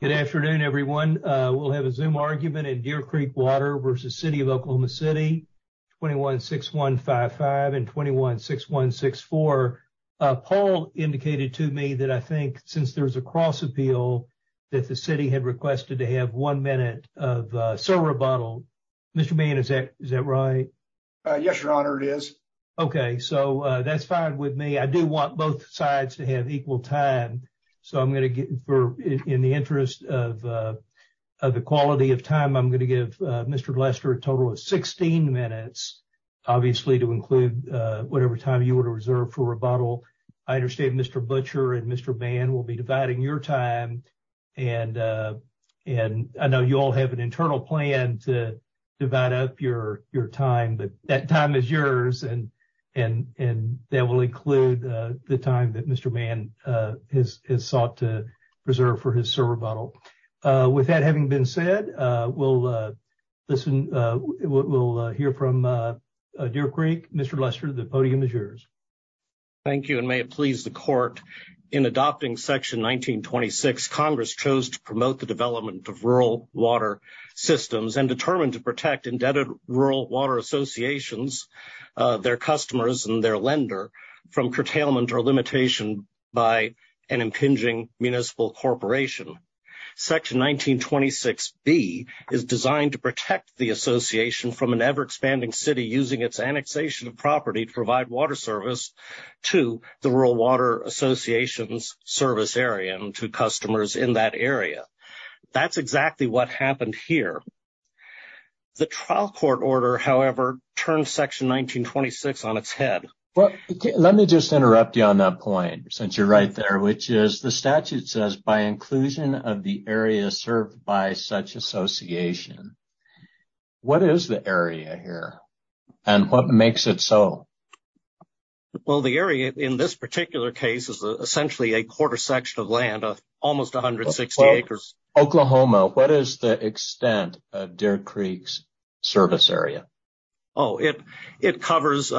Good afternoon, everyone. We'll have a Zoom argument in Deer Creek Water v. City of Oklahoma City, 21-6155 and 21-6164. Paul indicated to me that I think since there's a cross-appeal that the city had requested to have one minute of server bottle. Mr. Bain, is that right? Yes, your honor, it is. Okay, so that's fine with me. I do want both sides to have equal time, so I'm going to get in the interest of the quality of time, I'm going to give Mr. Glester a total of 16 minutes, obviously, to include whatever time you were to reserve for a bottle. I understand Mr. Butcher and Mr. Bain will be dividing your time, and I know you all have an internal plan to divide up your time, but that time is yours, and that will include the time that Mr. Bain has sought to preserve for his server bottle. With that having been said, we'll hear from Deer Creek. Mr. Glester, the podium is yours. Thank you, and may it please the court, in adopting Section 1926, Congress chose to promote the development of rural water systems and determined to protect indebted rural water associations, their customers, and their lender from curtailment or limitation by an impinging municipal corporation. Section 1926B is designed to protect the association from an ever-expanding city using its annexation of property to provide water service to the Rural Water Association's service area and to customers in that area. That's exactly what happened here. The trial court order, however, turned Section 1926 on its head. Let me just interrupt you on that point, since you're right there, which is the statute says, by inclusion of the area served by such association. What is the area here, and what makes it so? Well, the area in this particular case is essentially a quarter section of land of almost 160 acres. Oklahoma, what is the extent of Deer Creek's service area? Oh, it covers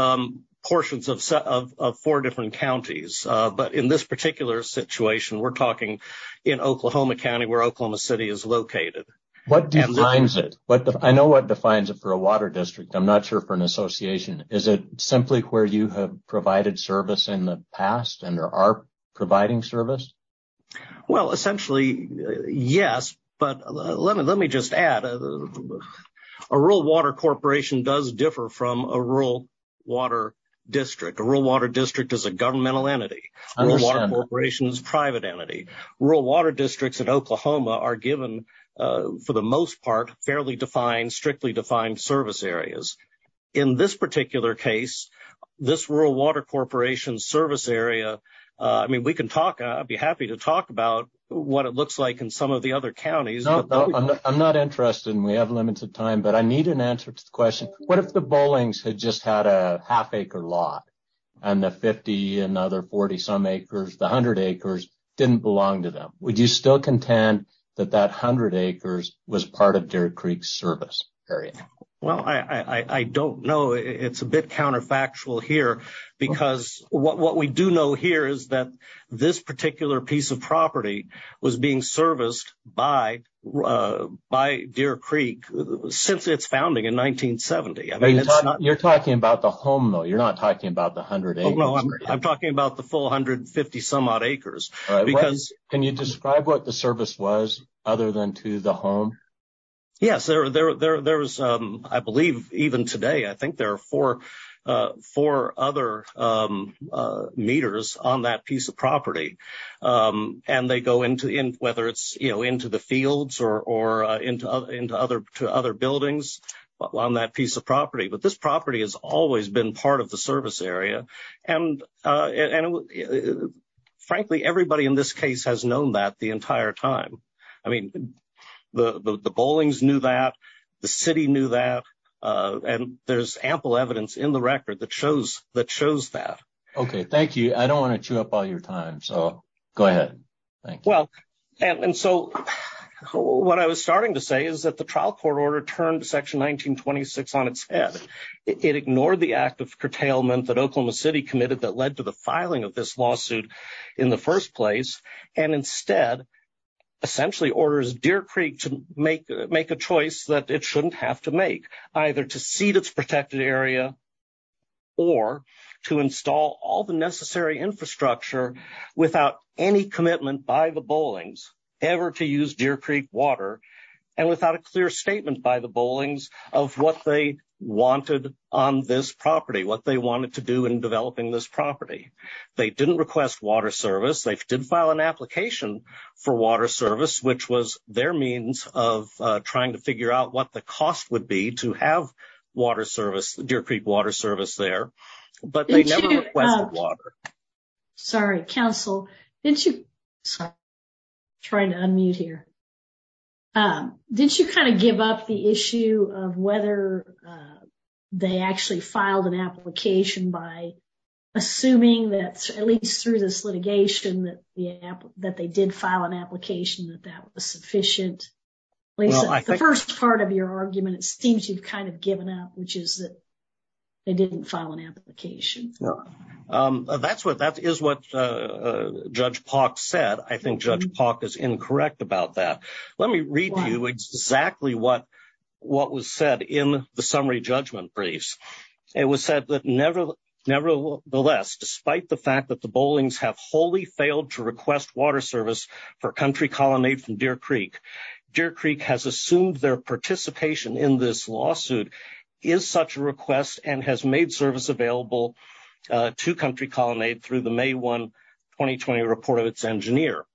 portions of four different counties, but in this particular situation, we're talking in Oklahoma County where Oklahoma City is located. What defines it? I know what defines it for a water district. I'm not sure for an association. Is it simply where you have provided service in the past and are providing service? Well, essentially, yes, but let me just add, a rural water corporation does differ from a rural water district. A rural water district is a governmental entity. A rural water corporation is a private entity. Rural water districts in Oklahoma are given, for the most part, fairly defined, strictly defined service areas. In this particular case, this rural water corporation service area, I mean, we can talk. I'd be happy to talk about what it looks like in some of the other counties. I'm not interested, and we have limited time, but I need an answer to the question. What if the Bolings had just had a half acre lot, and the 50 and other 40 some acres, the 100 acres, didn't belong to them? Would you still contend that that 100 acres was part of Deer Creek's service area? Well, I don't know. It's a bit counterfactual here, because what we do know here is that this particular piece of property was being serviced by Deer Creek since its founding in 1970. You're talking about the home, though. You're not talking about the 100 acres. No, I'm talking about the full 150 some odd acres. Can you describe what the service was other than to the home? Yes, I believe even today, I think there are four other meters on that piece of property. And they go into, whether it's into the fields or into other buildings on that piece of property. But this property has always been part of the service area. And frankly, everybody in this case has known that the entire time. I mean, the Bolings knew that, the city knew that, and there's ample evidence in the record that shows that. Okay, thank you. I don't want to chew up all your time, so go ahead. Well, and so what I was starting to say is that the trial court order turned Section 1926 on its head. It ignored the act of curtailment that Oklahoma City committed that led to the filing of this lawsuit in the first place. And instead, essentially orders Deer Creek to make a choice that it shouldn't have to make. Either to cede its protected area or to install all the necessary infrastructure without any commitment by the Bolings ever to use Deer Creek water. And without a clear statement by the Bolings of what they wanted on this property, what they wanted to do in developing this property. They didn't request water service. They did file an application for water service, which was their means of trying to figure out what the cost would be to have water service, Deer Creek water service there. But they never requested water. Sorry, counsel. Sorry, I'm trying to unmute here. Did you kind of give up the issue of whether they actually filed an application by assuming that at least through this litigation that they did file an application that that was sufficient? The first part of your argument, it seems you've kind of given up, which is that they didn't file an application. That's what that is what Judge Park said. I think Judge Park is incorrect about that. Let me read to you exactly what what was said in the summary judgment briefs. It was said that nevertheless, despite the fact that the Bolings have wholly failed to request water service for country colonnade from Deer Creek, Deer Creek has assumed their participation in this lawsuit is such a request and has made service available to country colonnade through the May 1, 2020 report of its engineer.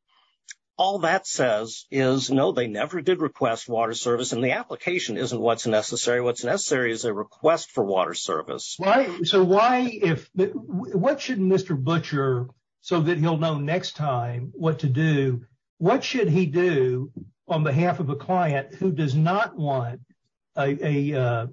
All that says is no, they never did request water service and the application isn't what's necessary. What's necessary is a request for water service. So why if what should Mr. Butcher, so that he'll know next time what to do, what should he do on behalf of a client who does not want a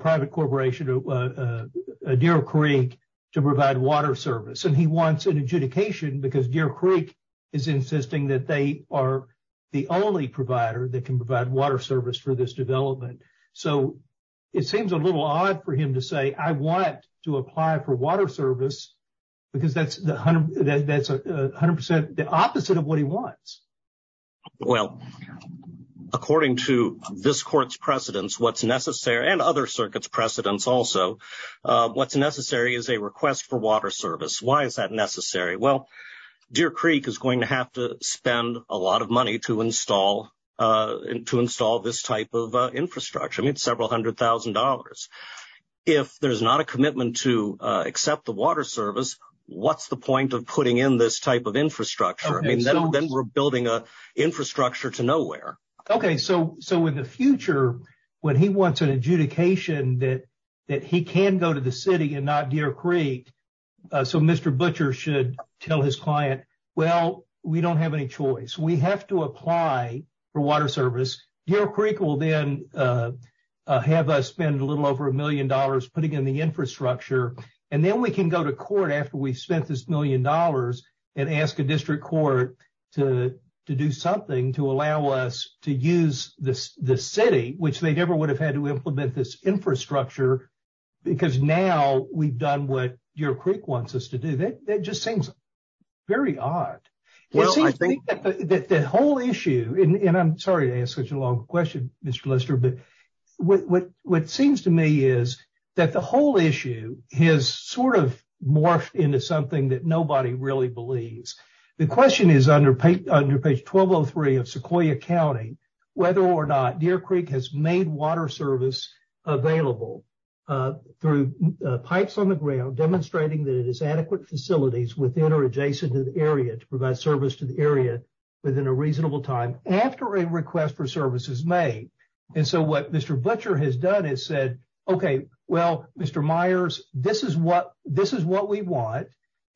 private corporation to Deer Creek to provide water service and he wants an adjudication because Deer Creek is insisting that they are the only provider that can provide water service for this development. So it seems a little odd for him to say I want to apply for water service because that's that's 100% the opposite of what he wants. Well, according to this court's precedents, what's necessary and other circuits precedents. Also, what's necessary is a request for water service. Why is that necessary? Well, Deer Creek is going to have to spend a lot of money to install to install this type of infrastructure. I mean, several hundred thousand dollars if there's not a commitment to accept the water service. What's the point of putting in this type of infrastructure? I mean, then we're building a infrastructure to nowhere. Okay. So so in the future, when he wants an adjudication that that he can go to the city and not Deer Creek. So Mr. Butcher should tell his client. Well, we don't have any choice. We have to apply for water service. Deer Creek will then have us spend a little over a million dollars putting in the infrastructure and then we can go to court after we spent this million dollars and ask a district court to do something to allow us to use the city, which they never would have had to implement this infrastructure. Because now we've done what your creek wants us to do. That just seems very odd. Well, I think that the whole issue and I'm sorry to ask such a long question, Mr. Lister, but what seems to me is that the whole issue has sort of morphed into something that nobody really believes. The question is, under page 1203 of Sequoia County, whether or not Deer Creek has made water service available through pipes on the ground, demonstrating that it is adequate facilities within or adjacent to the area to provide service to the area within a reasonable time after a request for service is made. And so what Mr. Butcher has done is said, OK, well, Mr. Myers, this is what this is what we want.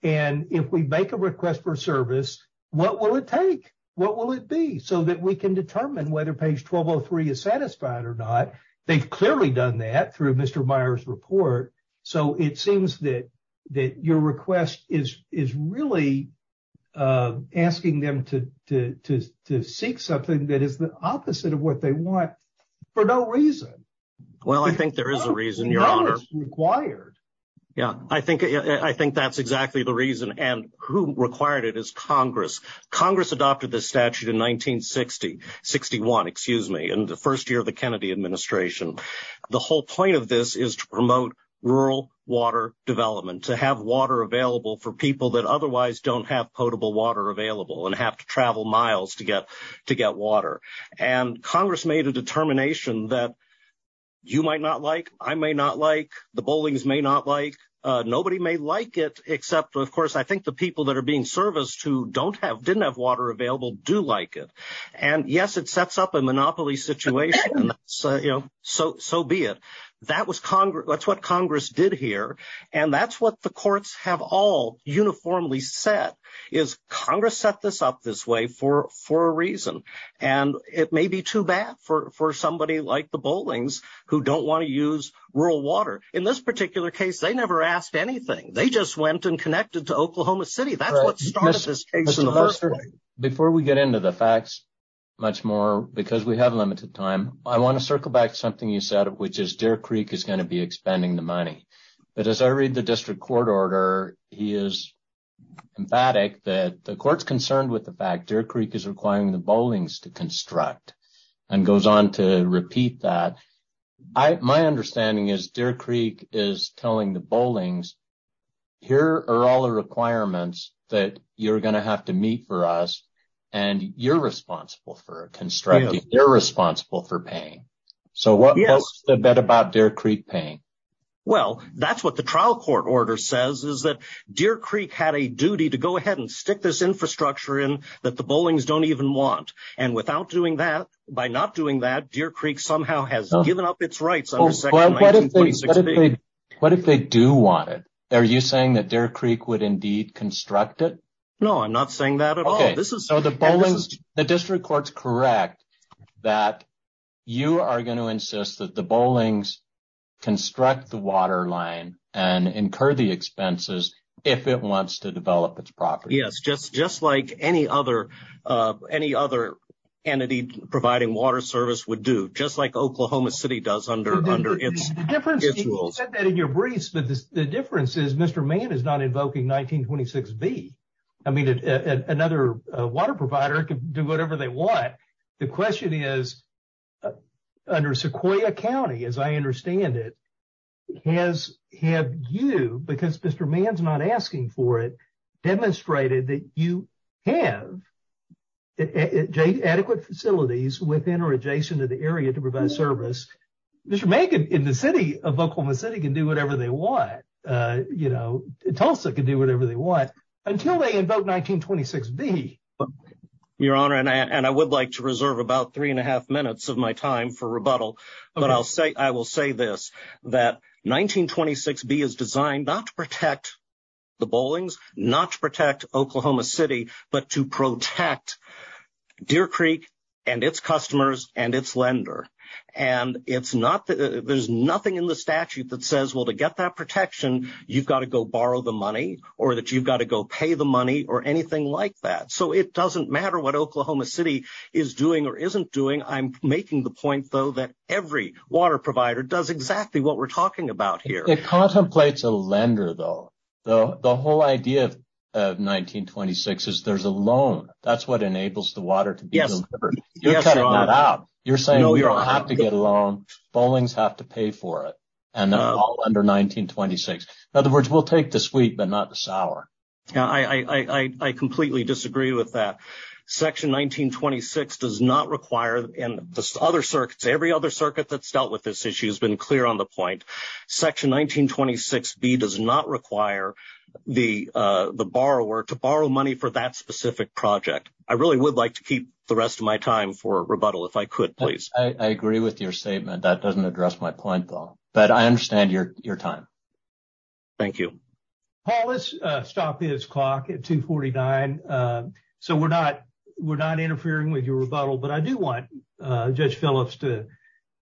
And if we make a request for service, what will it take? What will it be so that we can determine whether page 1203 is satisfied or not? They've clearly done that through Mr. Myers report. So it seems that that your request is is really asking them to to to to seek something that is the opposite of what they want for no reason. Well, I think there is a reason you're required. Yeah, I think I think that's exactly the reason. And who required it is Congress. Congress adopted the statute in 1960, 61, excuse me, in the first year of the Kennedy administration. The whole point of this is to promote rural water development, to have water available for people that otherwise don't have potable water available and have to travel miles to get to get water. And Congress made a determination that you might not like. I may not like the bowling's, may not like. Nobody may like it, except, of course, I think the people that are being serviced to don't have didn't have water available, do like it. And yes, it sets up a monopoly situation. So so be it. That was Congress. That's what Congress did here. And that's what the courts have all uniformly set is Congress set this up this way for for a reason. And it may be too bad for for somebody like the bowling's who don't want to use rural water. In this particular case, they never asked anything. They just went and connected to Oklahoma City. So before we get into the facts much more, because we have limited time, I want to circle back something you said, which is Deer Creek is going to be expending the money. But as I read the district court order, he is emphatic that the court's concerned with the fact Deer Creek is requiring the bowling's to construct and goes on to repeat that. My understanding is Deer Creek is telling the bowling's here are all the requirements that you're going to have to meet for us and you're responsible for constructing. They're responsible for paying. So what is the bet about Deer Creek paying? Well, that's what the trial court order says, is that Deer Creek had a duty to go ahead and stick this infrastructure in that the bowling's don't even want. And without doing that, by not doing that, Deer Creek somehow has given up its rights. What if they do want it? Are you saying that Deer Creek would indeed construct it? No, I'm not saying that at all. So the bowling's, the district court's correct that you are going to insist that the bowling's construct the water line and incur the expenses if it wants to develop its property. Yes, just like any other entity providing water service would do, just like Oklahoma City does under its rules. You said that in your briefs, but the difference is Mr. Mann is not invoking 1926B. I mean, another water provider can do whatever they want. The question is, under Sequoia County, as I understand it, has, have you, because Mr. Mann's not asking for it, demonstrated that you have adequate facilities within or adjacent to the area to provide service. Mr. Mann in the city of Oklahoma City can do whatever they want. You know, Tulsa can do whatever they want until they invoke 1926B. Your Honor, and I would like to reserve about three and a half minutes of my time for rebuttal. But I'll say, I will say this, that 1926B is designed not to protect the bowling's, not to protect Oklahoma City, but to protect Deer Creek and its customers and its lender. And it's not, there's nothing in the statute that says, well, to get that protection, you've got to go borrow the money or that you've got to go pay the money or anything like that. So it doesn't matter what Oklahoma City is doing or isn't doing. I'm making the point, though, that every water provider does exactly what we're talking about here. It contemplates a lender, though. The whole idea of 1926 is there's a loan. That's what enables the water to be delivered. You're cutting that out. You're saying we don't have to get a loan. Bowling's have to pay for it. And they're all under 1926. In other words, we'll take the sweet but not the sour. I completely disagree with that. Section 1926 does not require, and the other circuits, every other circuit that's dealt with this issue has been clear on the point. Section 1926B does not require the borrower to borrow money for that specific project. I really would like to keep the rest of my time for rebuttal if I could, please. I agree with your statement. That doesn't address my point, though. But I understand your time. Thank you. Paul, let's stop his clock at 249. So we're not interfering with your rebuttal. But I do want Judge Phillips to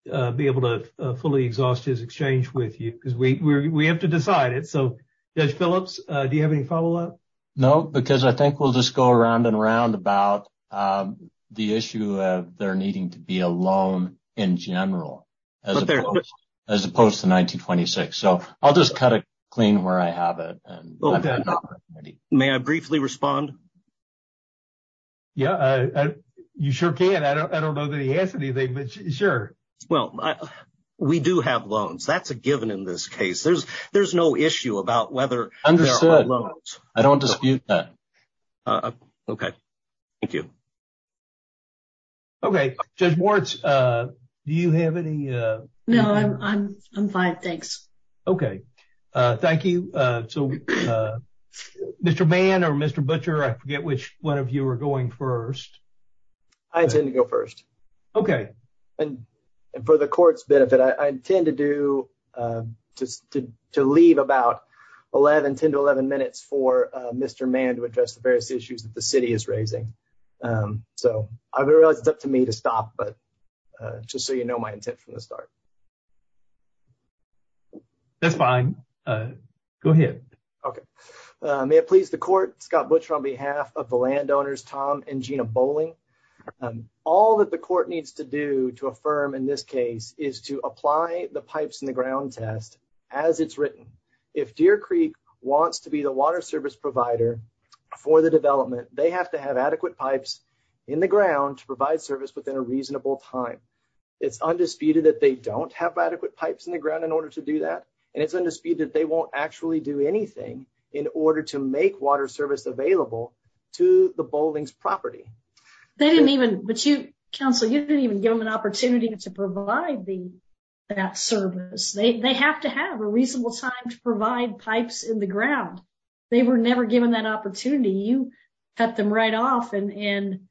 be able to fully exhaust his exchange with you because we have to decide it. So, Judge Phillips, do you have any follow up? No, because I think we'll just go around and around about the issue of there needing to be a loan in general as opposed to 1926. So I'll just cut it clean where I have it. May I briefly respond? Yeah, you sure can. I don't know that he has anything, but sure. Well, we do have loans. That's a given in this case. There's no issue about whether there are loans. Understood. I don't dispute that. Okay. Thank you. Okay. Judge Moritz, do you have any? No, I'm fine. Thanks. Okay. Thank you. So, Mr. Mann or Mr. Butcher, I forget which one of you are going first. I intend to go first. Okay. And for the court's benefit, I intend to leave about 10 to 11 minutes for Mr. Mann to address the various issues that the city is raising. So I realize it's up to me to stop, but just so you know, my intent from the start. That's fine. Go ahead. Okay. May it please the court, Scott Butcher on behalf of the landowners, Tom and Gina Bowling. All that the court needs to do to affirm in this case is to apply the pipes in the ground test as it's written. If Deer Creek wants to be the water service provider for the development, they have to have adequate pipes in the ground to provide service within a reasonable time. It's undisputed that they don't have adequate pipes in the ground in order to do that. And it's undisputed that they won't actually do anything in order to make water service available to the Bowling's property. But you counsel, you didn't even give them an opportunity to provide that service. They have to have a reasonable time to provide pipes in the ground. They were never given that opportunity. You cut them right off and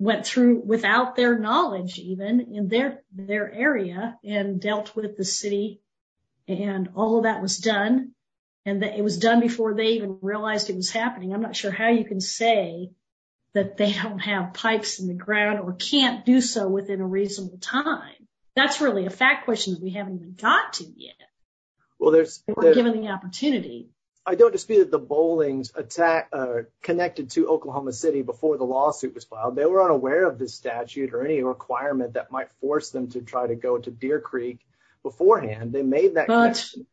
went through without their knowledge, even in their area and dealt with the city. And all of that was done, and it was done before they even realized it was happening. I'm not sure how you can say that they don't have pipes in the ground or can't do so within a reasonable time. That's really a fact question that we haven't even got to yet. Well, there's given the opportunity. I don't dispute that the Bowling's connected to Oklahoma City before the lawsuit was filed. They were unaware of the statute or any requirement that might force them to try to go to Deer Creek beforehand. They made that connection.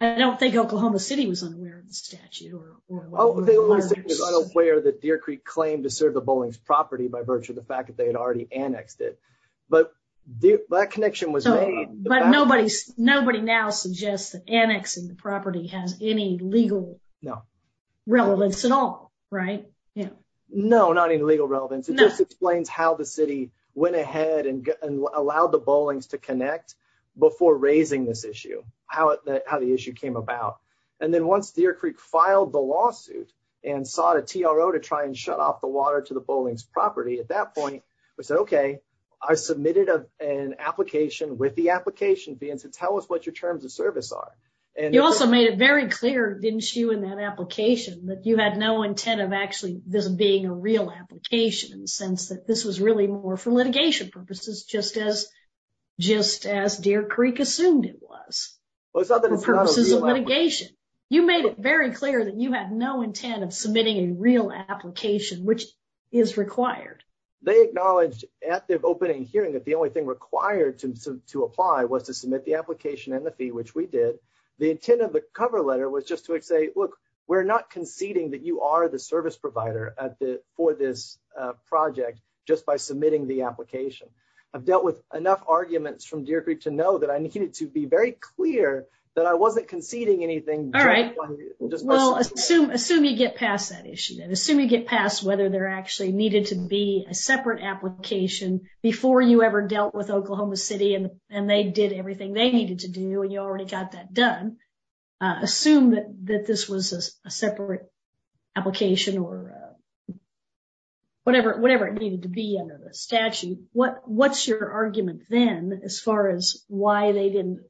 I don't think Oklahoma City was unaware of the statute. They were unaware that Deer Creek claimed to serve the Bowling's property by virtue of the fact that they had already annexed it. But that connection was made. But nobody now suggests that annexing the property has any legal relevance at all, right? No, not in legal relevance. It just explains how the city went ahead and allowed the Bowling's to connect before raising this issue, how the issue came about. And then once Deer Creek filed the lawsuit and sought a TRO to try and shut off the water to the Bowling's property, at that point, we said, okay, I submitted an application with the application being to tell us what your terms of service are. You also made it very clear, didn't you, in that application that you had no intent of actually this being a real application in the sense that this was really more for litigation purposes, just as Deer Creek assumed it was for purposes of litigation. You made it very clear that you had no intent of submitting a real application, which is required. They acknowledged at the opening hearing that the only thing required to apply was to submit the application and the fee, which we did. The intent of the cover letter was just to say, look, we're not conceding that you are the service provider for this project just by submitting the application. I've dealt with enough arguments from Deer Creek to know that I needed to be very clear that I wasn't conceding anything. Well, assume you get past that issue and assume you get past whether there actually needed to be a separate application before you ever dealt with Oklahoma City and they did everything they needed to do and you already got that done. Assume that this was a separate application or whatever it needed to be under the statute. What's your argument then as far as why they didn't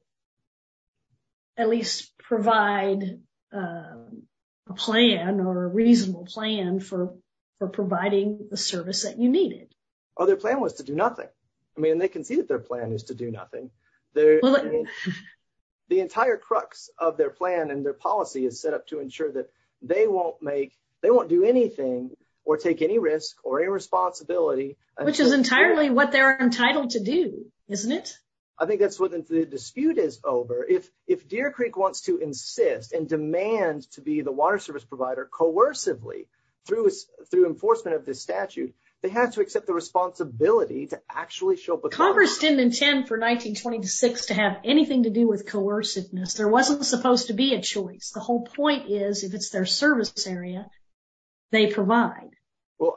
at least provide a plan or a reasonable plan for providing the service that you needed? Oh, their plan was to do nothing. I mean, they can see that their plan is to do nothing. The entire crux of their plan and their policy is set up to ensure that they won't do anything or take any risk or any responsibility. Which is entirely what they're entitled to do, isn't it? I think that's what the dispute is over. If Deer Creek wants to insist and demand to be the water service provider coercively through enforcement of this statute, they have to accept the responsibility to actually show... Congress didn't intend for 1926 to have anything to do with coerciveness. There wasn't supposed to be a choice. The whole point is if it's their service area, they provide.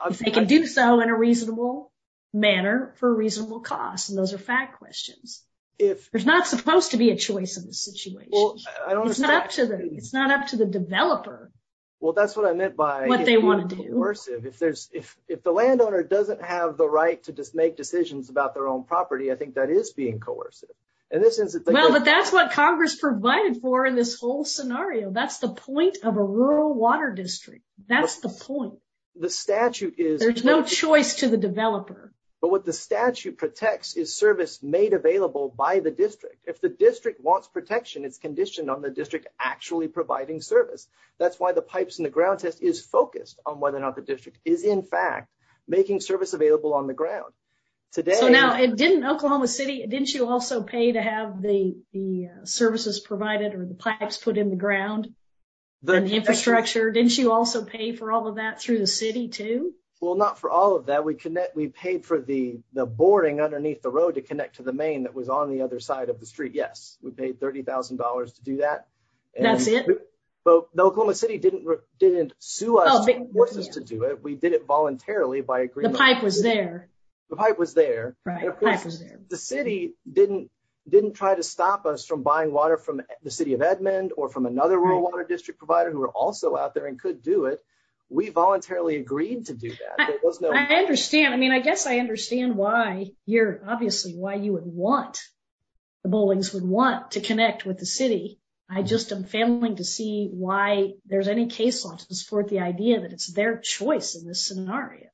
If they can do so in a reasonable manner for a reasonable cost, and those are fact questions. There's not supposed to be a choice in this situation. It's not up to the developer what they want to do. Well, that's what I meant by being coercive. If the landowner doesn't have the right to make decisions about their own property, I think that is being coercive. Well, but that's what Congress provided for in this whole scenario. That's the point of a rural water district. That's the point. There's no choice to the developer. But what the statute protects is service made available by the district. If the district wants protection, it's conditioned on the district actually providing service. That's why the pipes and the ground test is focused on whether or not the district is in fact making service available on the ground. So now, didn't Oklahoma City, didn't you also pay to have the services provided or the pipes put in the ground, the infrastructure? Didn't you also pay for all of that through the city too? Well, not for all of that. We paid for the boarding underneath the road to connect to the main that was on the other side of the street. Yes, we paid $30,000 to do that. That's it? But the Oklahoma City didn't sue us to force us to do it. We did it voluntarily by agreement. The pipe was there. The pipe was there. Right, the pipe was there. The city didn't try to stop us from buying water from the city of Edmond or from another rural water district provider who were also out there and could do it. We voluntarily agreed to do that. I understand. I mean, I guess I understand why you're, obviously, why you would want, the buildings would want to connect with the city. I just am failing to see why there's any case law to support the idea that it's their choice in this scenario.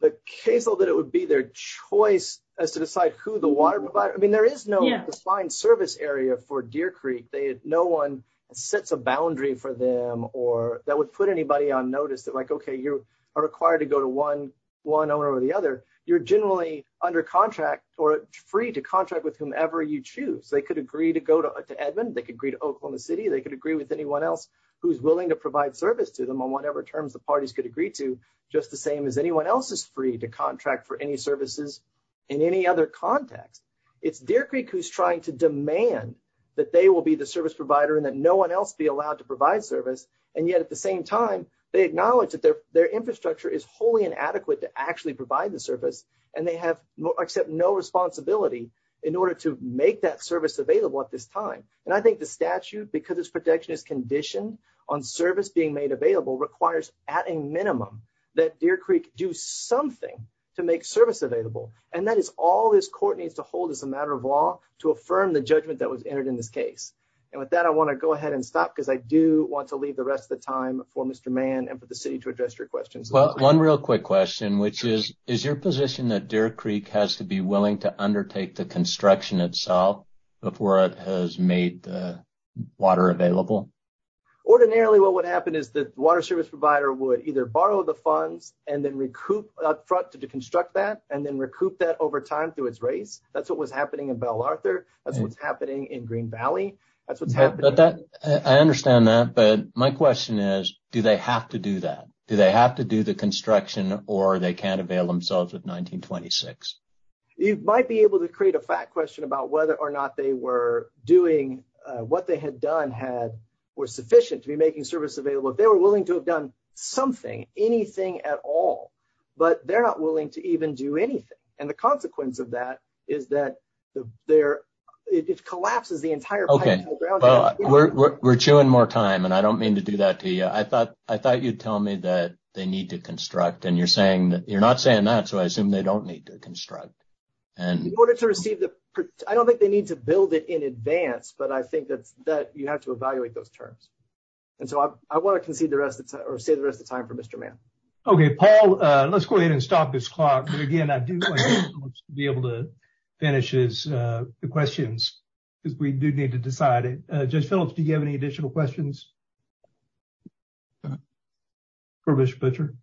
The case law that it would be their choice as to decide who the water provider, I mean, there is no defined service area for Deer Creek. No one sets a boundary for them or that would put anybody on notice that like, okay, you are required to go to one owner or the other. You're generally under contract or free to contract with whomever you choose. They could agree to go to Edmond. They could agree to Oklahoma City. They could agree with anyone else who's willing to provide service to them on whatever terms the parties could agree to. Just the same as anyone else is free to contract for any services in any other context. It's Deer Creek who's trying to demand that they will be the service provider and that no one else be allowed to provide service. And yet, at the same time, they acknowledge that their infrastructure is wholly inadequate to actually provide the service. And they have except no responsibility in order to make that service available at this time. And I think the statute, because its protection is conditioned on service being made available, requires at a minimum that Deer Creek do something to make service available. And that is all this court needs to hold as a matter of law to affirm the judgment that was entered in this case. And with that, I want to go ahead and stop because I do want to leave the rest of the time for Mr. Mann and for the city to address your questions. Well, one real quick question, which is, is your position that Deer Creek has to be willing to undertake the construction itself before it has made the water available? Ordinarily, what would happen is the water service provider would either borrow the funds and then recoup up front to construct that and then recoup that over time through its race. That's what was happening in Belle Arthur. That's what's happening in Green Valley. I understand that. But my question is, do they have to do that? Do they have to do the construction or they can't avail themselves of 1926? You might be able to create a fact question about whether or not they were doing what they had done had were sufficient to be making service available. They were willing to have done something, anything at all, but they're not willing to even do anything. And the consequence of that is that they're it collapses the entire. OK, well, we're chewing more time and I don't mean to do that to you. I thought I thought you'd tell me that they need to construct. And you're saying that you're not saying that. So I assume they don't need to construct. And in order to receive the I don't think they need to build it in advance, but I think that that you have to evaluate those terms. And so I want to concede the rest or save the rest of time for Mr. Mann. OK, Paul, let's go ahead and stop this clock. And again, I do want to be able to finish the questions because we do need to decide it. Just Phillips. Do you have any additional questions? Furbish butcher.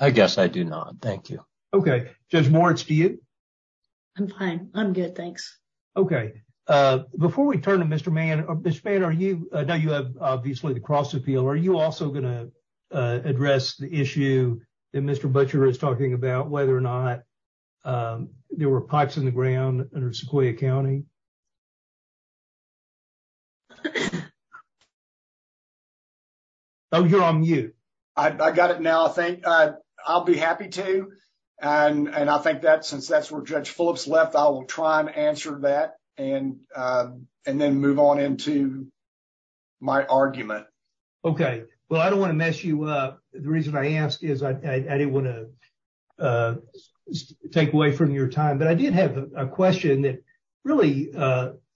I guess I do not. Thank you. OK. Judge Moritz, do you. I'm fine. I'm good. Thanks. OK, before we turn to Mr. Mann, Mr. Mann, are you know, you have obviously the cross appeal. Are you also going to address the issue that Mr. Butcher is talking about, whether or not there were pipes in the ground under Sequoia County? Oh, you're on mute. I got it now. I think I'll be happy to. And I think that since that's where Judge Phillips left, I will try and answer that and and then move on into my argument. OK, well, I don't want to mess you up. The reason I asked is I didn't want to take away from your time. But I did have a question that really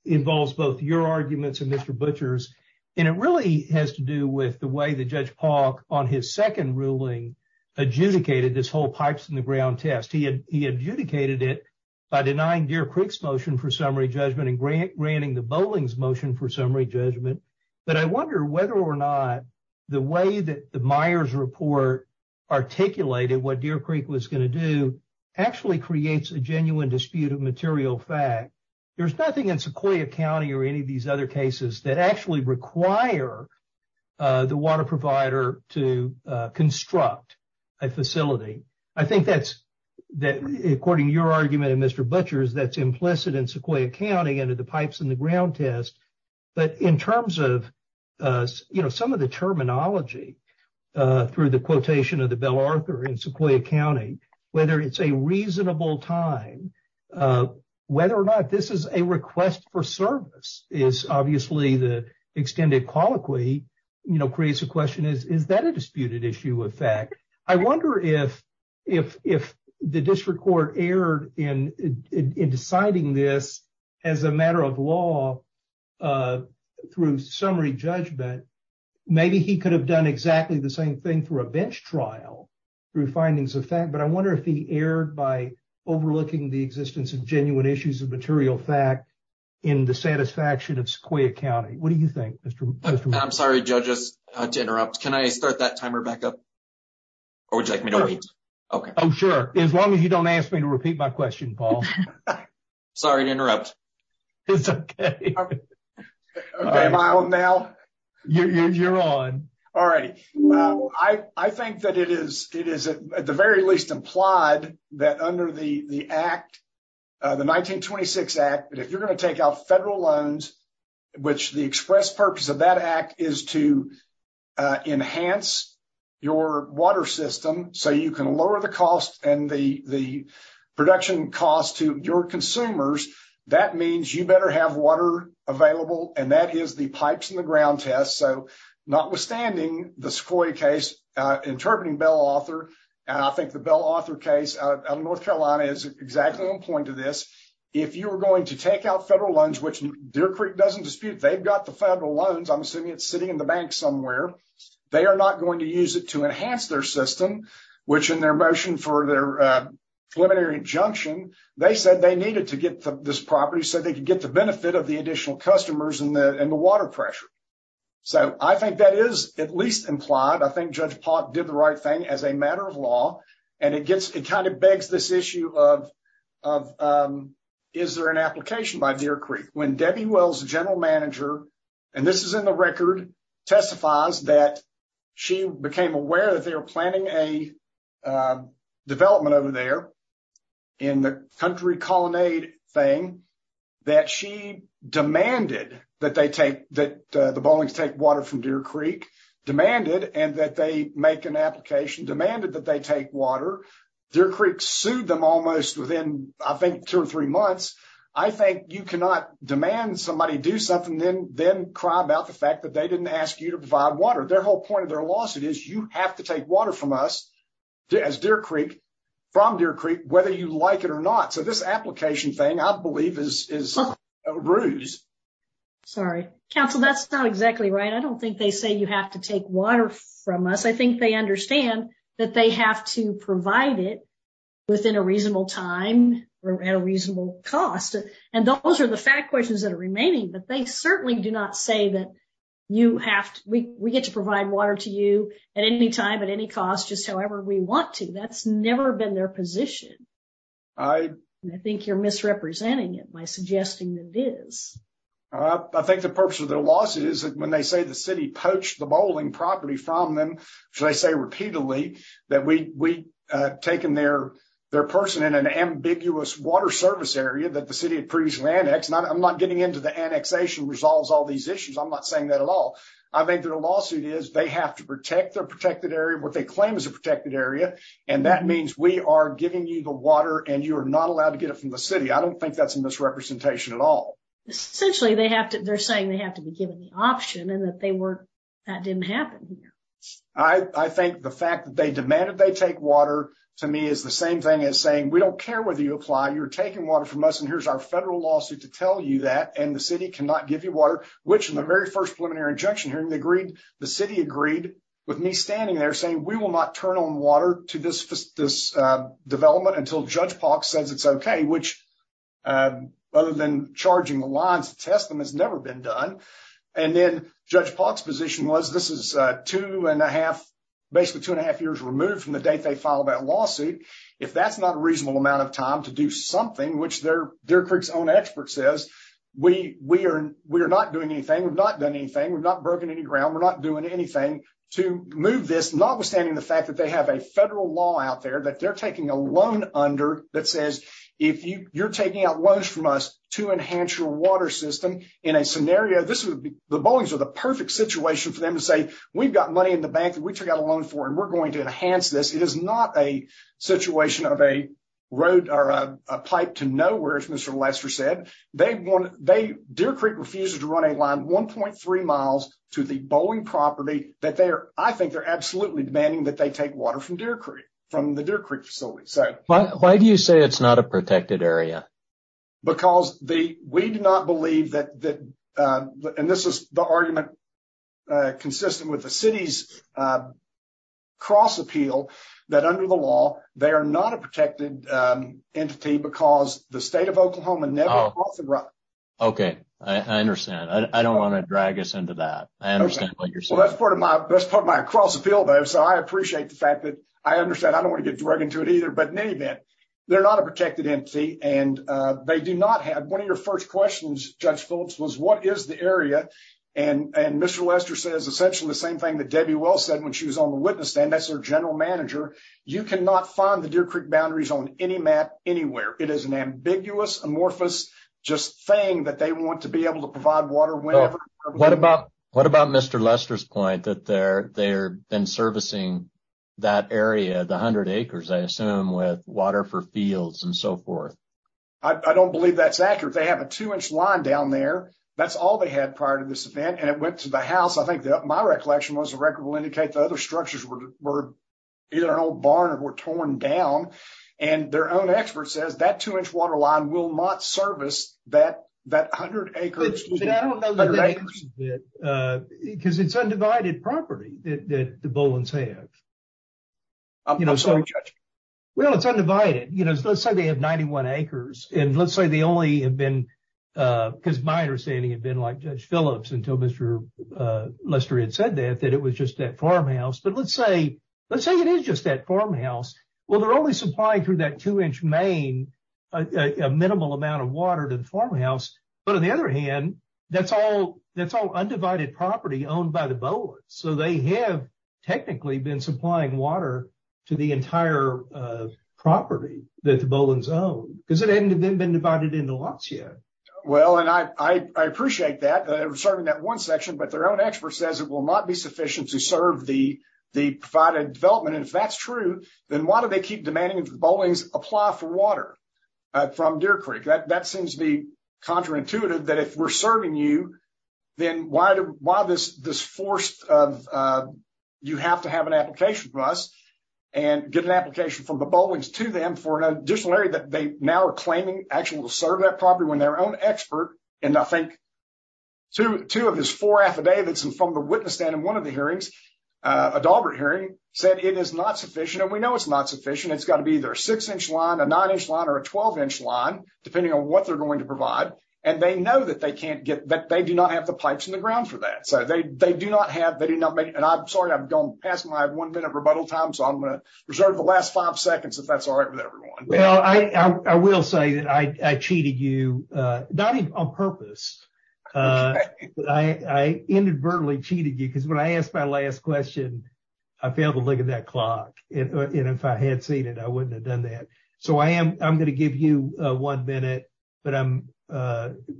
involves both your arguments and Mr. Butcher's. And it really has to do with the way the judge Paul on his second ruling adjudicated this whole pipes in the ground test. He had he adjudicated it by denying Deer Creek's motion for summary judgment and grant granting the bowling's motion for summary judgment. But I wonder whether or not the way that the Myers report articulated what Deer Creek was going to do actually creates a genuine dispute of material fact. There's nothing in Sequoia County or any of these other cases that actually require the water provider to construct a facility. I think that's that according to your argument and Mr. Butcher's, that's implicit in Sequoia County under the pipes in the ground test. But in terms of, you know, some of the terminology through the quotation of the Bell Arthur in Sequoia County, whether it's a reasonable time, whether or not this is a request for service is obviously the extended colloquy, you know, creates a question. Is that a disputed issue of fact? I wonder if if if the district court erred in deciding this as a matter of law through summary judgment, maybe he could have done exactly the same thing through a bench trial through findings of fact. But I wonder if he erred by overlooking the existence of genuine issues of material fact in the satisfaction of Sequoia County. What do you think, Mr. Butcher? I'm sorry, judges, to interrupt. Can I start that timer back up? Or would you like me to repeat? Oh, sure. As long as you don't ask me to repeat my question, Paul. Sorry to interrupt. It's OK. Am I on now? You're on. All right. I think that it is it is at the very least implied that under the act, the 1926 act, if you're going to take out federal loans, which the express purpose of that act is to enhance your water system so you can lower the cost and the the production costs to your consumers. That means you better have water available. And that is the pipes in the ground test. So notwithstanding the Sequoia case interpreting Bell author, I think the Bell author case of North Carolina is exactly on point to this. If you are going to take out federal loans, which Deer Creek doesn't dispute, they've got the federal loans. I'm assuming it's sitting in the bank somewhere. They are not going to use it to enhance their system, which in their motion for their preliminary injunction, they said they needed to get this property so they could get the benefit of the additional customers in the in the water pressure. So I think that is at least implied. I think Judge Park did the right thing as a matter of law. And it gets it kind of begs this issue of of is there an application by Deer Creek when Debbie Wells, general manager, and this is in the record, testifies that she became aware that they were planning a development over there in the country. thing that she demanded that they take that the bowling to take water from Deer Creek demanded and that they make an application demanded that they take water. Deer Creek sued them almost within, I think, two or three months. I think you cannot demand somebody do something then then cry about the fact that they didn't ask you to provide water. Their whole point of their lawsuit is you have to take water from us as Deer Creek from Deer Creek, whether you like it or not. So this application thing, I believe, is a ruse. Sorry, counsel, that's not exactly right. I don't think they say you have to take water from us. I think they understand that they have to provide it within a reasonable time and a reasonable cost. And those are the fact questions that are remaining. But they certainly do not say that you have to we get to provide water to you at any time, at any cost, just however we want to. That's never been their position. I think you're misrepresenting it by suggesting that it is. I think the purpose of their loss is when they say the city poached the bowling property from them. So they say repeatedly that we taken their their person in an ambiguous water service area that the city had previously annexed. I'm not getting into the annexation resolves all these issues. I'm not saying that at all. I think that a lawsuit is they have to protect their protected area, what they claim is a protected area. And that means we are giving you the water and you are not allowed to get it from the city. I don't think that's a misrepresentation at all. Essentially, they have to. They're saying they have to be given the option and that they were that didn't happen. I think the fact that they demanded they take water to me is the same thing as saying we don't care whether you apply. You're taking water from us. And here's our federal lawsuit to tell you that. And the city cannot give you water, which in the very first preliminary injunction hearing, they agreed. The city agreed with me standing there saying we will not turn on water to this development until Judge Park says it's OK. Which other than charging the lines to test them has never been done. And then Judge Park's position was this is two and a half, basically two and a half years removed from the date they filed that lawsuit. If that's not a reasonable amount of time to do something, which they're their own expert says we we are. We are not doing anything. We've not done anything. We've not broken any ground. We're not doing anything to move this, notwithstanding the fact that they have a federal law out there that they're taking a loan under. That says if you're taking out loans from us to enhance your water system in a scenario, this would be the bones of the perfect situation for them to say, we've got money in the bank. We took out a loan for and we're going to enhance this. It is not a situation of a road or a pipe to know where it's Mr. Lester said they want they Deer Creek refuses to run a line one point three miles to the bowling property that they are. I think they're absolutely demanding that they take water from Deer Creek from the Deer Creek facility. So why do you say it's not a protected area? Because the we do not believe that that and this is the argument consistent with the city's cross appeal that under the law, they are not a protected entity because the state of Oklahoma. OK, I understand. I don't want to drag us into that. That's part of my cross appeal, though, so I appreciate the fact that I understand. I don't want to get right into it either. But maybe they're not a protected entity. And they do not have one of your first questions. Judge Phillips was what is the area? And Mr. Lester says essentially the same thing that Debbie well said when she was on the witness stand. That's our general manager. You cannot find the Deer Creek boundaries on any map anywhere. It is an ambiguous, amorphous just thing that they want to be able to provide water. What about what about Mr. Lester's point that they're they're been servicing that area, the 100 acres, I assume, with water for fields and so forth? I don't believe that's accurate. They have a two inch line down there. That's all they had prior to this event. And it went to the house. I think that my recollection was a record will indicate the other structures were either an old barn or were torn down. And their own expert says that two inch water line will not service that that 100 acres. Because it's undivided property that the Bullens have. I'm sorry, Judge. Well, it's undivided. You know, let's say they have 91 acres and let's say they only have been because my understanding had been like Judge Phillips until Mr. Lester had said that, that it was just that farmhouse. But let's say let's say it is just that farmhouse. Well, they're only supplying through that two inch main a minimal amount of water to the farmhouse. But on the other hand, that's all that's all undivided property owned by the Bullens. So they have technically been supplying water to the entire property that the Bullens own because it hadn't been divided into lots yet. Well, and I appreciate that serving that one section, but their own expert says it will not be sufficient to serve the, the provided development. And if that's true, then why do they keep demanding the Bullens apply for water from Deer Creek? That seems to be counterintuitive that if we're serving you, then why do why this this force of you have to have an application for us. And get an application from the Bullens to them for an additional area that they now are claiming actually will serve that property when their own expert. And I think two of his four affidavits and from the witness stand in one of the hearings, a Daubert hearing said it is not sufficient. And we know it's not sufficient. It's got to be their six inch line, a nine inch line or a 12 inch line, depending on what they're going to provide. And they know that they can't get that. They do not have the pipes in the ground for that. So they do not have they do not make and I'm sorry, I'm going past my one minute rebuttal time. So I'm going to reserve the last five seconds if that's all right with everyone. Well, I will say that I cheated you on purpose. I inadvertently cheated you because when I asked my last question, I failed to look at that clock. And if I had seen it, I wouldn't have done that. So I am I'm going to give you one minute. But I'm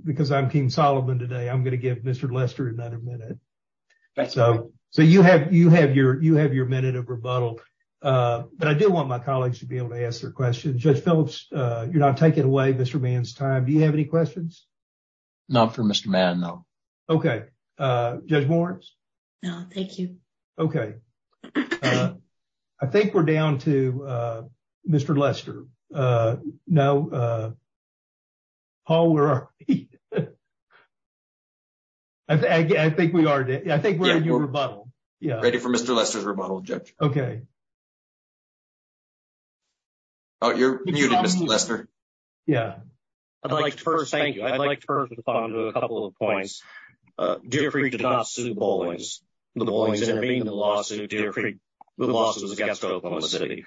because I'm King Solomon today. I'm going to give Mr. Lester another minute. So so you have you have your you have your minute of rebuttal. But I do want my colleagues to be able to ask their questions. Judge Phillips, you're not taking away Mr. Mann's time. Do you have any questions? Not for Mr. Mann. No. OK. Judge Morris. No, thank you. OK. I think we're down to Mr. Lester. No. Oh, we're. I think we are. I think we're a new rebuttal. Yeah. Ready for Mr. Lester's rebuttal. OK. Oh, you're muted, Mr. Lester. Yeah. I'd like to first thank you. I'd like to first respond to a couple of points. Jeffrey did not sue Bowling's. Lawsuit, Jeffrey. The lawsuit is against Oklahoma City.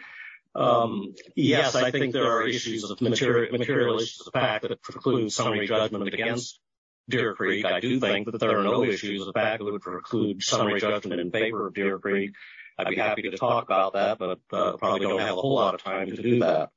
Yes, I think there are issues of material materialist, the fact that it precludes summary judgment against Deer Creek. I do think that there are no issues of the fact that it would preclude summary judgment in favor of Deer Creek. I'd be happy to talk about that, but probably don't have a whole lot of time to do that.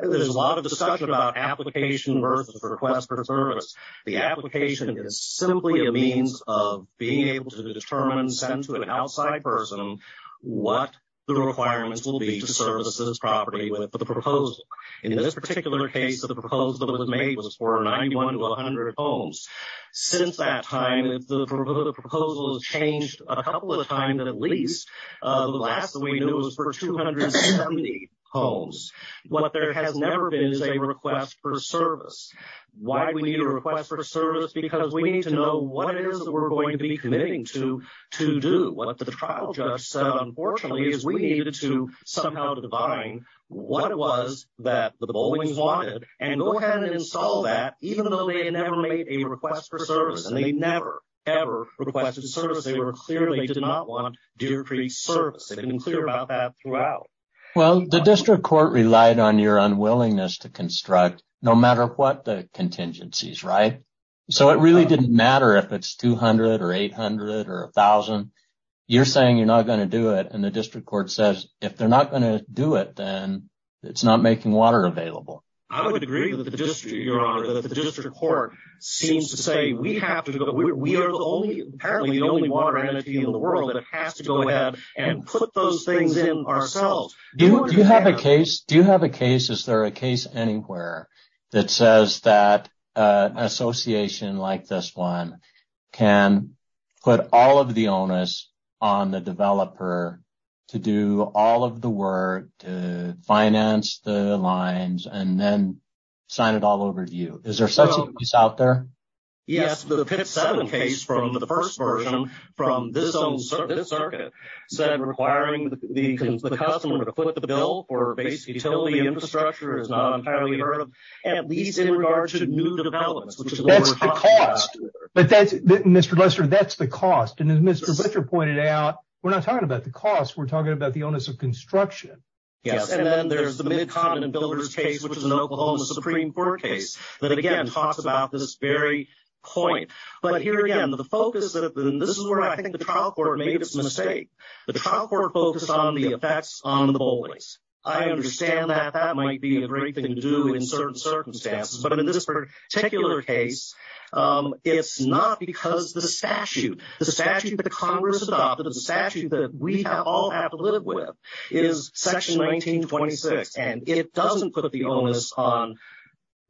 There's a lot of discussion about application versus request for service. The application is simply a means of being able to determine and send to an outside person what the requirements will be to services property with the proposal. In this particular case of the proposal that was made was for ninety one to one hundred homes. Since that time, the proposal has changed a couple of the time that at least the last that we knew was for two hundred and seventy homes. What there has never been is a request for service. Why do we need a request for service? Because we need to know what it is that we're going to be committing to to do. What the trial judge said, unfortunately, is we needed to somehow define what it was that the bowling wanted and go ahead and install that, even though they never made a request for service. And they never, ever requested service. They were clearly did not want Deer Creek service. They've been clear about that throughout. Well, the district court relied on your unwillingness to construct no matter what the contingencies. Right. So it really didn't matter if it's two hundred or eight hundred or a thousand. You're saying you're not going to do it. And the district court says if they're not going to do it, then it's not making water available. I would agree with the district, Your Honor, that the district court seems to say we have to go. We are the only apparently the only water entity in the world that has to go ahead and put those things in ourselves. Do you have a case? Is there a case anywhere that says that an association like this one can put all of the onus on the developer to do all of the work to finance the lines and then sign it all over to you? Is there such a case out there? Yes. The pit seven case from the first version from this circuit said requiring the customer to put the bill for basic utility infrastructure is not entirely heard of, at least in regards to new developments. That's the cost. But that's Mr. Lester. That's the cost. And as Mr. Butcher pointed out, we're not talking about the cost. We're talking about the onus of construction. Yes. And then there's the Mid-Continent Builders case, which is an Oklahoma Supreme Court case that, again, talks about this very point. But here, again, the focus, and this is where I think the trial court made its mistake. The trial court focused on the effects on the bullies. I understand that that might be a great thing to do in certain circumstances. But in this particular case, it's not because the statute, the statute that Congress adopted, the statute that we all have to live with, is section 1926. And it doesn't put the onus on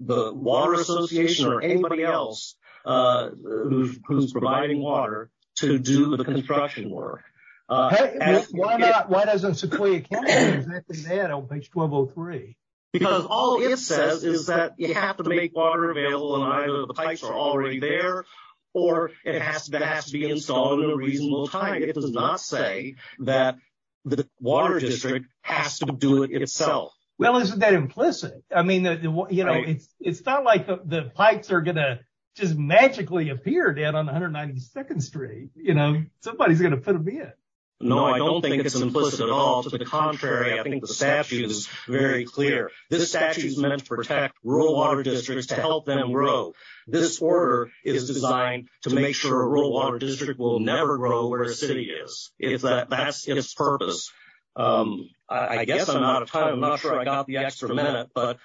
the Water Association or anybody else who's providing water to do the construction work. Why doesn't Sequoia County do exactly that on page 1203? Because all it says is that you have to make water available and either the pipes are already there or it has to be installed in a reasonable time. It does not say that the Water District has to do it itself. Well, isn't that implicit? I mean, you know, it's not like the pipes are going to just magically appear down on 192nd Street. You know, somebody's going to put them in. No, I don't think it's implicit at all. To the contrary, I think the statute is very clear. This statute is meant to protect rural water districts, to help them grow. This order is designed to make sure a rural water district will never grow where a city is. That's its purpose. I guess I'm out of time. I'm not sure I got the extra minute. But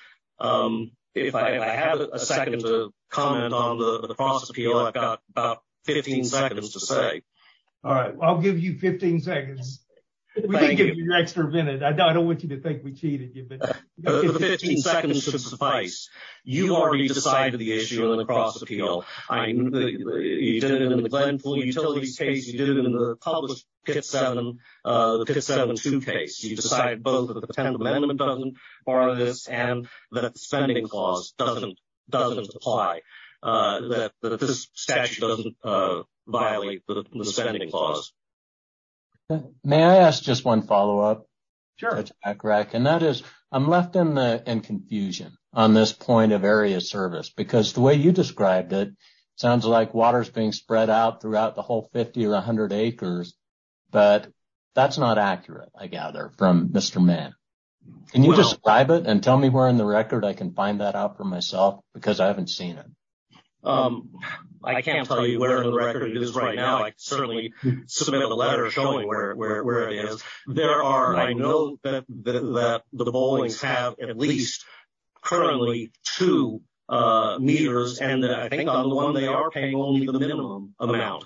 if I have a second to comment on the process appeal, I've got about 15 seconds to say. All right, I'll give you 15 seconds. We did give you an extra minute. I don't want you to think we cheated you. The 15 seconds should suffice. You already decided the issue in the cross-appeal. I mean, you did it in the Glenpool Utilities case. You did it in the published Pit 7, the Pit 7-2 case. You decided both that the Tenement Amendment doesn't require this and that the spending clause doesn't apply, that this statute doesn't violate the spending clause. May I ask just one follow-up? Sure. And that is, I'm left in confusion on this point of area service. Because the way you described it, sounds like water is being spread out throughout the whole 50 or 100 acres. But that's not accurate, I gather, from Mr. Mann. Can you describe it and tell me where in the record I can find that out for myself? Because I haven't seen it. I can't tell you where in the record it is right now. I can certainly submit a letter showing where it is. I know that the Bowlings have at least currently two meters. And I think on the one they are paying only the minimum amount.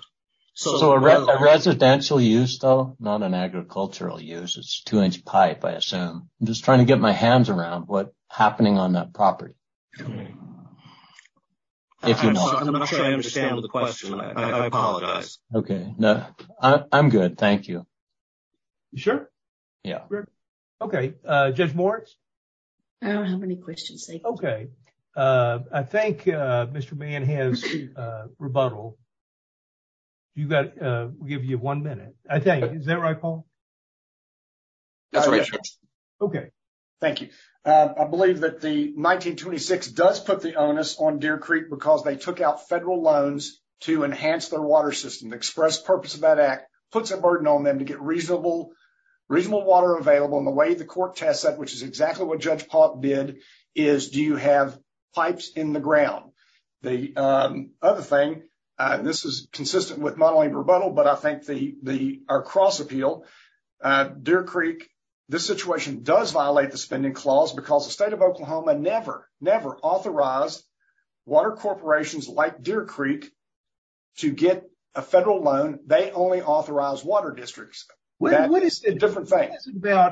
So a residential use, though, not an agricultural use. It's a two-inch pipe, I assume. I'm just trying to get my hands around what's happening on that property. I'm not sure I understand the question. I apologize. Okay. I'm good. Thank you. You sure? Yeah. Okay. Judge Moritz? I don't have any questions. Okay. I think Mr. Mann has rebuttal. We'll give you one minute. Is that right, Paul? That's right, Judge. Okay. Thank you. I believe that the 1926 does put the onus on Deer Creek because they took out federal loans to enhance their water system. The express purpose of that act puts a burden on them to get reasonable water available. And the way the court tests that, which is exactly what Judge Pollack did, is do you have pipes in the ground? The other thing, and this is consistent with not only rebuttal, but I think our cross-appeal, Deer Creek, this situation does violate the spending clause because the state of Oklahoma never, never authorized water corporations like Deer Creek to get a federal loan. They only authorize water districts. That's a different thing.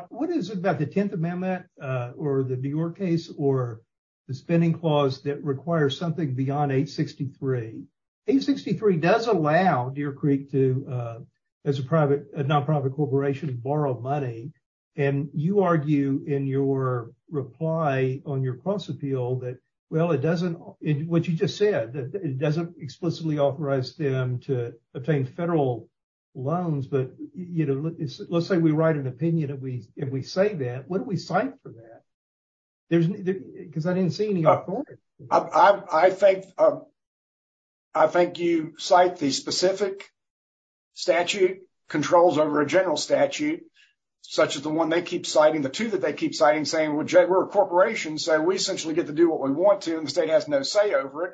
What is it about the 10th Amendment or the New York case or the spending clause that requires something beyond 863? 863 does allow Deer Creek to, as a private, a non-profit corporation to borrow money. And you argue in your reply on your cross-appeal that, well, it doesn't, what you just said, that it doesn't explicitly authorize them to obtain federal loans. But, you know, let's say we write an opinion. If we, if we say that, what do we cite for that? Because I didn't see any authority. I think, I think you cite the specific statute, controls over a general statute, such as the one they keep citing, the two that they keep citing saying, well, Jay, we're a corporation. So we essentially get to do what we want to. And the state has no say over it,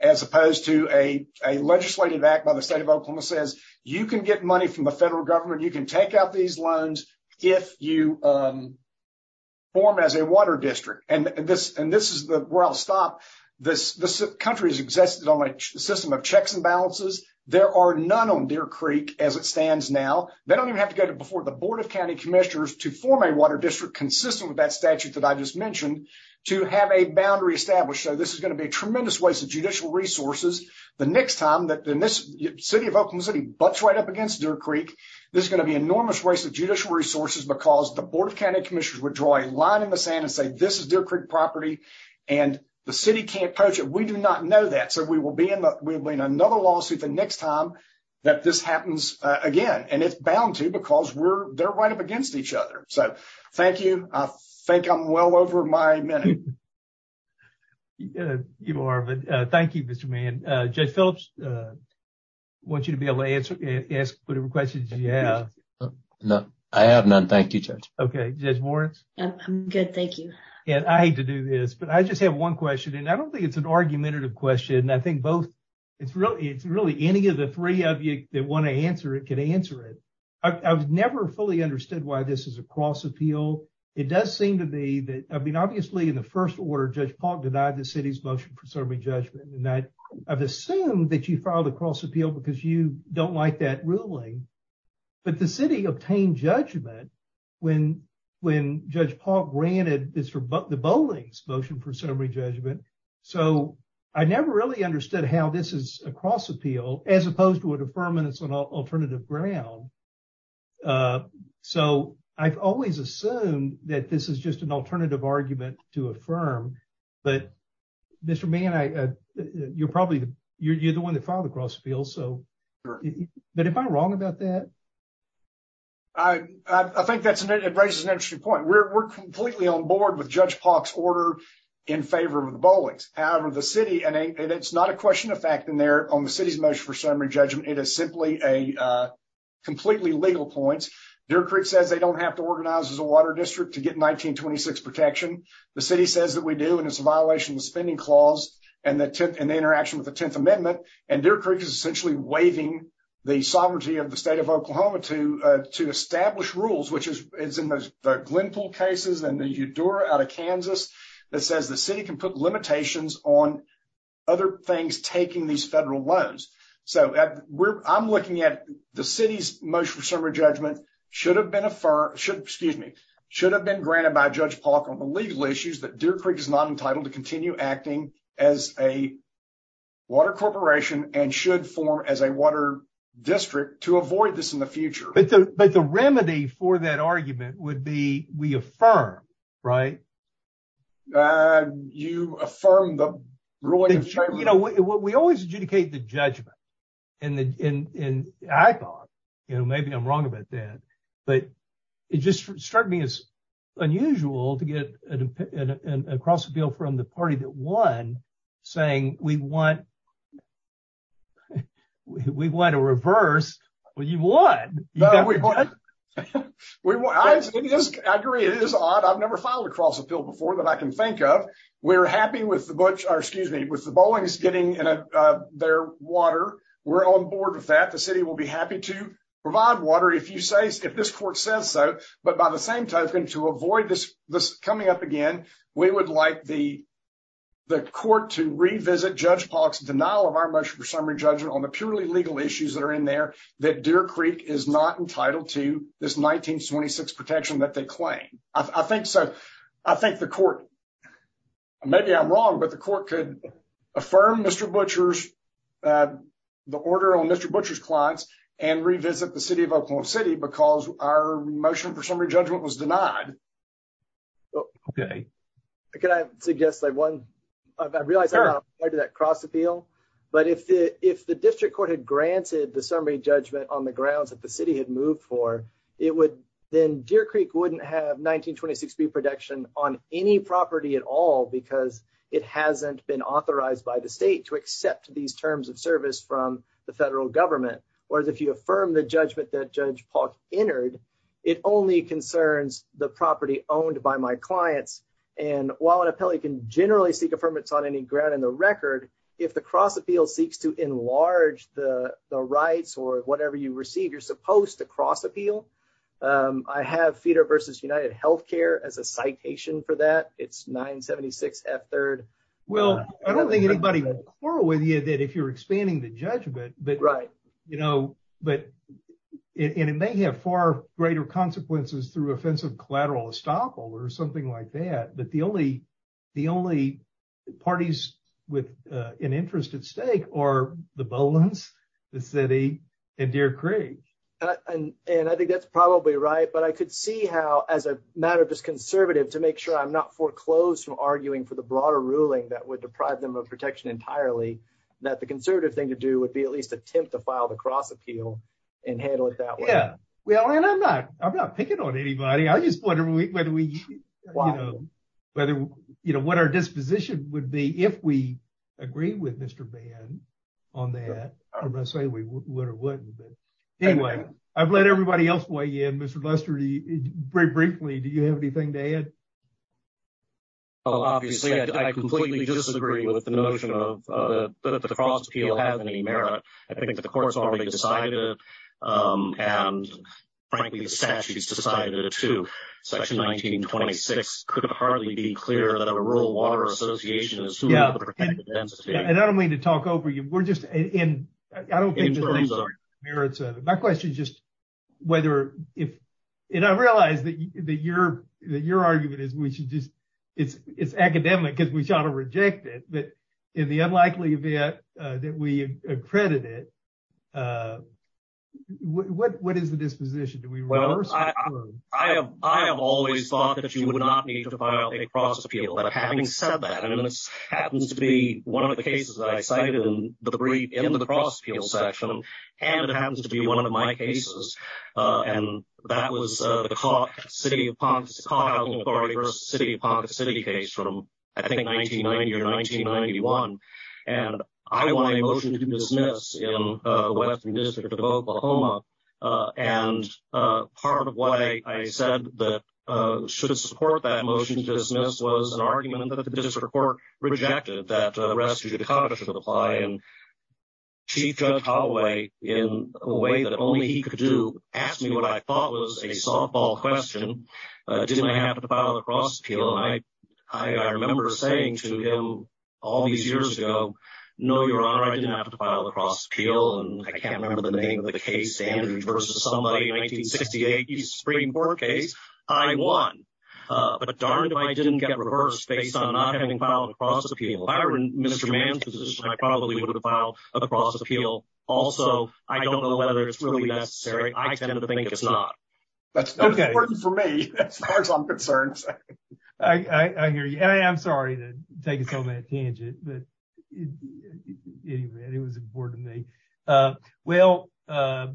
as opposed to a legislative act by the state of Oklahoma says you can get money from the federal government. You can take out these loans if you form as a water district. And this, and this is the, where I'll stop. This country has existed on a system of checks and balances. There are none on Deer Creek as it stands now. They don't even have to go to before the board of County commissioners to form a water district, consistent with that statute that I just mentioned to have a boundary established. So this is going to be a tremendous waste of judicial resources. The next time that this city of Oakland city butts right up against Deer Creek, this is going to be enormous waste of judicial resources because the board of County commissioners would draw a line in the sand and say, this is Deer Creek property. And the city can't push it. We do not know that. So we will be in another lawsuit. The next time that this happens again, and it's bound to because we're there right up against each other. So thank you. I think I'm well over my minute. You are, but thank you, Mr. Man. Jay Phillips. Want you to be able to answer, ask whatever questions you have. No, I have none. Thank you. Okay. I'm good. Thank you. And I hate to do this, but I just have one question. And I don't think it's an argumentative question. And I think both it's really, it's really any of the three of you that want to answer it, can answer it. I've never fully understood why this is a cross appeal. It does seem to be that. I mean, obviously in the first order, judge Paul denied the city's motion for serving judgment. And that I've assumed that you filed a cross appeal because you don't like that ruling. But the city obtained judgment. I mean, I've never really understood how this is a cross appeal when, when judge Paul granted this for the bowling's motion for summary judgment. So. I never really understood how this is across appeal as opposed to what a permanent, so not alternative ground. So I've always assumed that this is just an alternative argument to affirm. But. Mr. Man, I, you're probably. You're the one that filed a cross field. So. But if I'm wrong about that. I think that's an, it raises an interesting point. We're completely on board with judge pox order. In favor of the bowlings. However, the city and it's not a question of fact in there on the city's motion for summary judgment, it is simply a. Completely legal points. Deer Creek says they don't have to organize as a water district to get 1926 protection. The city says that we do. And it's a violation of the spending clause and the tip and the interaction with the 10th amendment. And Deer Creek is essentially waiving the sovereignty of the state of Oklahoma to, to establish rules, which is. It's in those Glen pool cases and the Eudora out of Kansas. That says the city can put limitations on. Other things, taking these federal loans. So we're I'm looking at the city's motion for summary judgment. Should have been a firm should, excuse me. Should have been granted by judge park on the legal issues that deer Creek is not entitled to continue acting as a. Water corporation and should form as a water district to avoid this in the future. But the, but the remedy for that argument would be we affirm. Right. You affirm the ruling. You know, we always adjudicate the judgment. And the, and I thought, you know, maybe I'm wrong about that. But it just struck me as unusual to get. Across the field from the party that won saying we want. We want to reverse what you want. We will. I agree. It is odd. I've never filed across a bill before that I can think of. We're happy with the book or excuse me, with the bowling is getting in. Their water. We're on board with that. The city will be happy to provide water. If you say, if this court says so, but by the same token to avoid this, this coming up again, we would like the. The court to revisit judge box denial of our motion for summary judgment on the purely legal issues that are in there that deer Creek is not entitled to this 1926 protection that they claim. I think so. I think the court. Maybe I'm wrong, but the court could affirm Mr. Butcher's. The order on Mr. Butcher's clients and revisit the city of Oklahoma city, But, you know, I don't think that that's something that we should be doing because our motion for summary judgment was denied. Okay. I guess like one. I realized. Cross appeal. But if the, if the district court had granted the summary judgment on the grounds that the city had moved for, it would. Then deer Creek wouldn't have 1926. Be protection on any property at all, I think that's. And that's a good question because it hasn't been authorized by the state to accept these terms of service from the federal government. Whereas if you affirm the judgment that judge Paul entered, it only concerns the property owned by my clients. And while an appellee can generally seek affirmative on any ground in the record. If the cross appeal seeks to enlarge the rights or whatever you Well, I don't think anybody will quarrel with you that if you're expanding the judgment, but right. You know, but it, and it may have far greater consequences through offensive collateral estoppel or something like that. But the only, the only parties with an interest at stake or the Bolins, the city and Deer Creek. And I think that's probably right, but I could see how as a matter of just conservative to make sure I'm not foreclosed from arguing for the broader ruling that would deprive them of protection entirely, that the conservative thing to do would be at least attempt to file the cross appeal and handle it that way. Yeah. Well, and I'm not, I'm not picking on anybody. I just wonder when we, when we, you know, whether, you know, what our disposition would be if we agree with Mr. Ban on that. I'm going to say we would or wouldn't, but anyway, I've let everybody else weigh in Mr. Lester, very briefly. Do you have anything to add? Obviously I completely disagree with the notion of the cross appeal having any merit. I think that the court's already decided and frankly, the statutes decided to section 1926 could hardly be clear that a rural water association is who has the protected density. And I don't mean to talk over you. We're just in, I don't think there's any merits of it. My question is just whether if, and I realize that, that you're, that your argument is we should just, it's, it's academic because we try to reject it, but in the unlikely event, that we accredit it, what, what is the disposition? I have, I have always thought that you would not need to file a cross appeal that having said that, and it happens to be one of the cases that I cited in the brief in the cross field section. And it happens to be one of my cases. And that was the city of Ponce city of Ponce city case from, I think 1990 or 1991. And I want a motion to dismiss in a Western district of Oklahoma. And part of why I said that should support that motion to dismiss was an argument that the district court rejected that the rest of the Congress should apply and chief judge hallway in a way that only he could do. Asked me what I thought was a softball question. Didn't I have to file a cross appeal? I, I, I remember saying to him all these years ago, no, your honor, I did not have to file a cross appeal. And I can't remember the name of the case. Andrew versus somebody 1968 Supreme court case. I won, but darned if I didn't get reversed based on not having filed a cross appeal, I wouldn't administer man's position. I probably would have filed a cross appeal. Also. I don't know whether it's really necessary. I tend to think it's not. That's not important for me as far as I'm concerned. I hear you. And I am sorry to take it so bad tangent, but it was important to me. Well,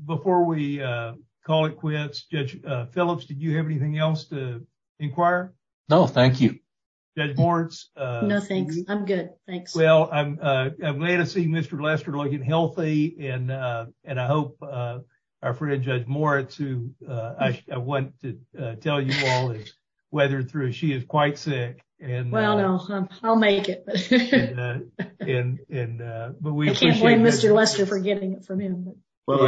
before we call it quits judge Phillips, did you have anything else to inquire? No, thank you. Judge Moritz. No, thanks. I'm good. Thanks. Well, I'm, I'm glad to see Mr. Lester looking healthy and, and I hope our friend, judge Moritz, who I want to tell you all is weathered through. She is quite sick and well, no, I'll make it. And, but we can't blame Mr. Lester for getting it from him. Well,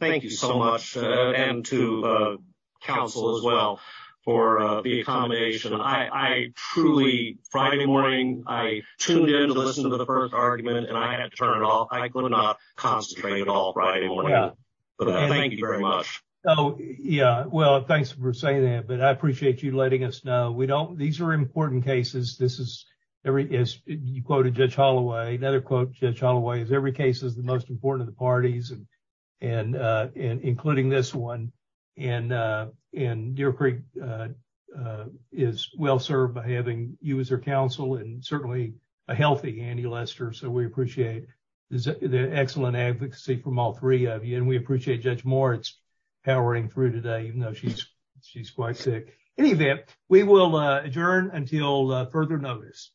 thank you so much. And to counsel as well for the accommodation. I truly Friday morning, I tuned in to listen to the first argument and I had to turn it off. I could not concentrate at all Friday morning. Thank you very much. Oh yeah. Well, thanks for saying that, but I appreciate you letting us know. We don't, these are important cases. This is every, as you quoted judge Holloway, another quote, judge Holloway is every case is the most important to the parties and, and, and including this one and, and Deer Creek is well-served by having you as her counsel and certainly a healthy Andy Lester. So we appreciate the excellent advocacy from all three of you. And we appreciate judge Moritz powering through today, even though she's, she's quite sick. In any event, we will adjourn until further notice.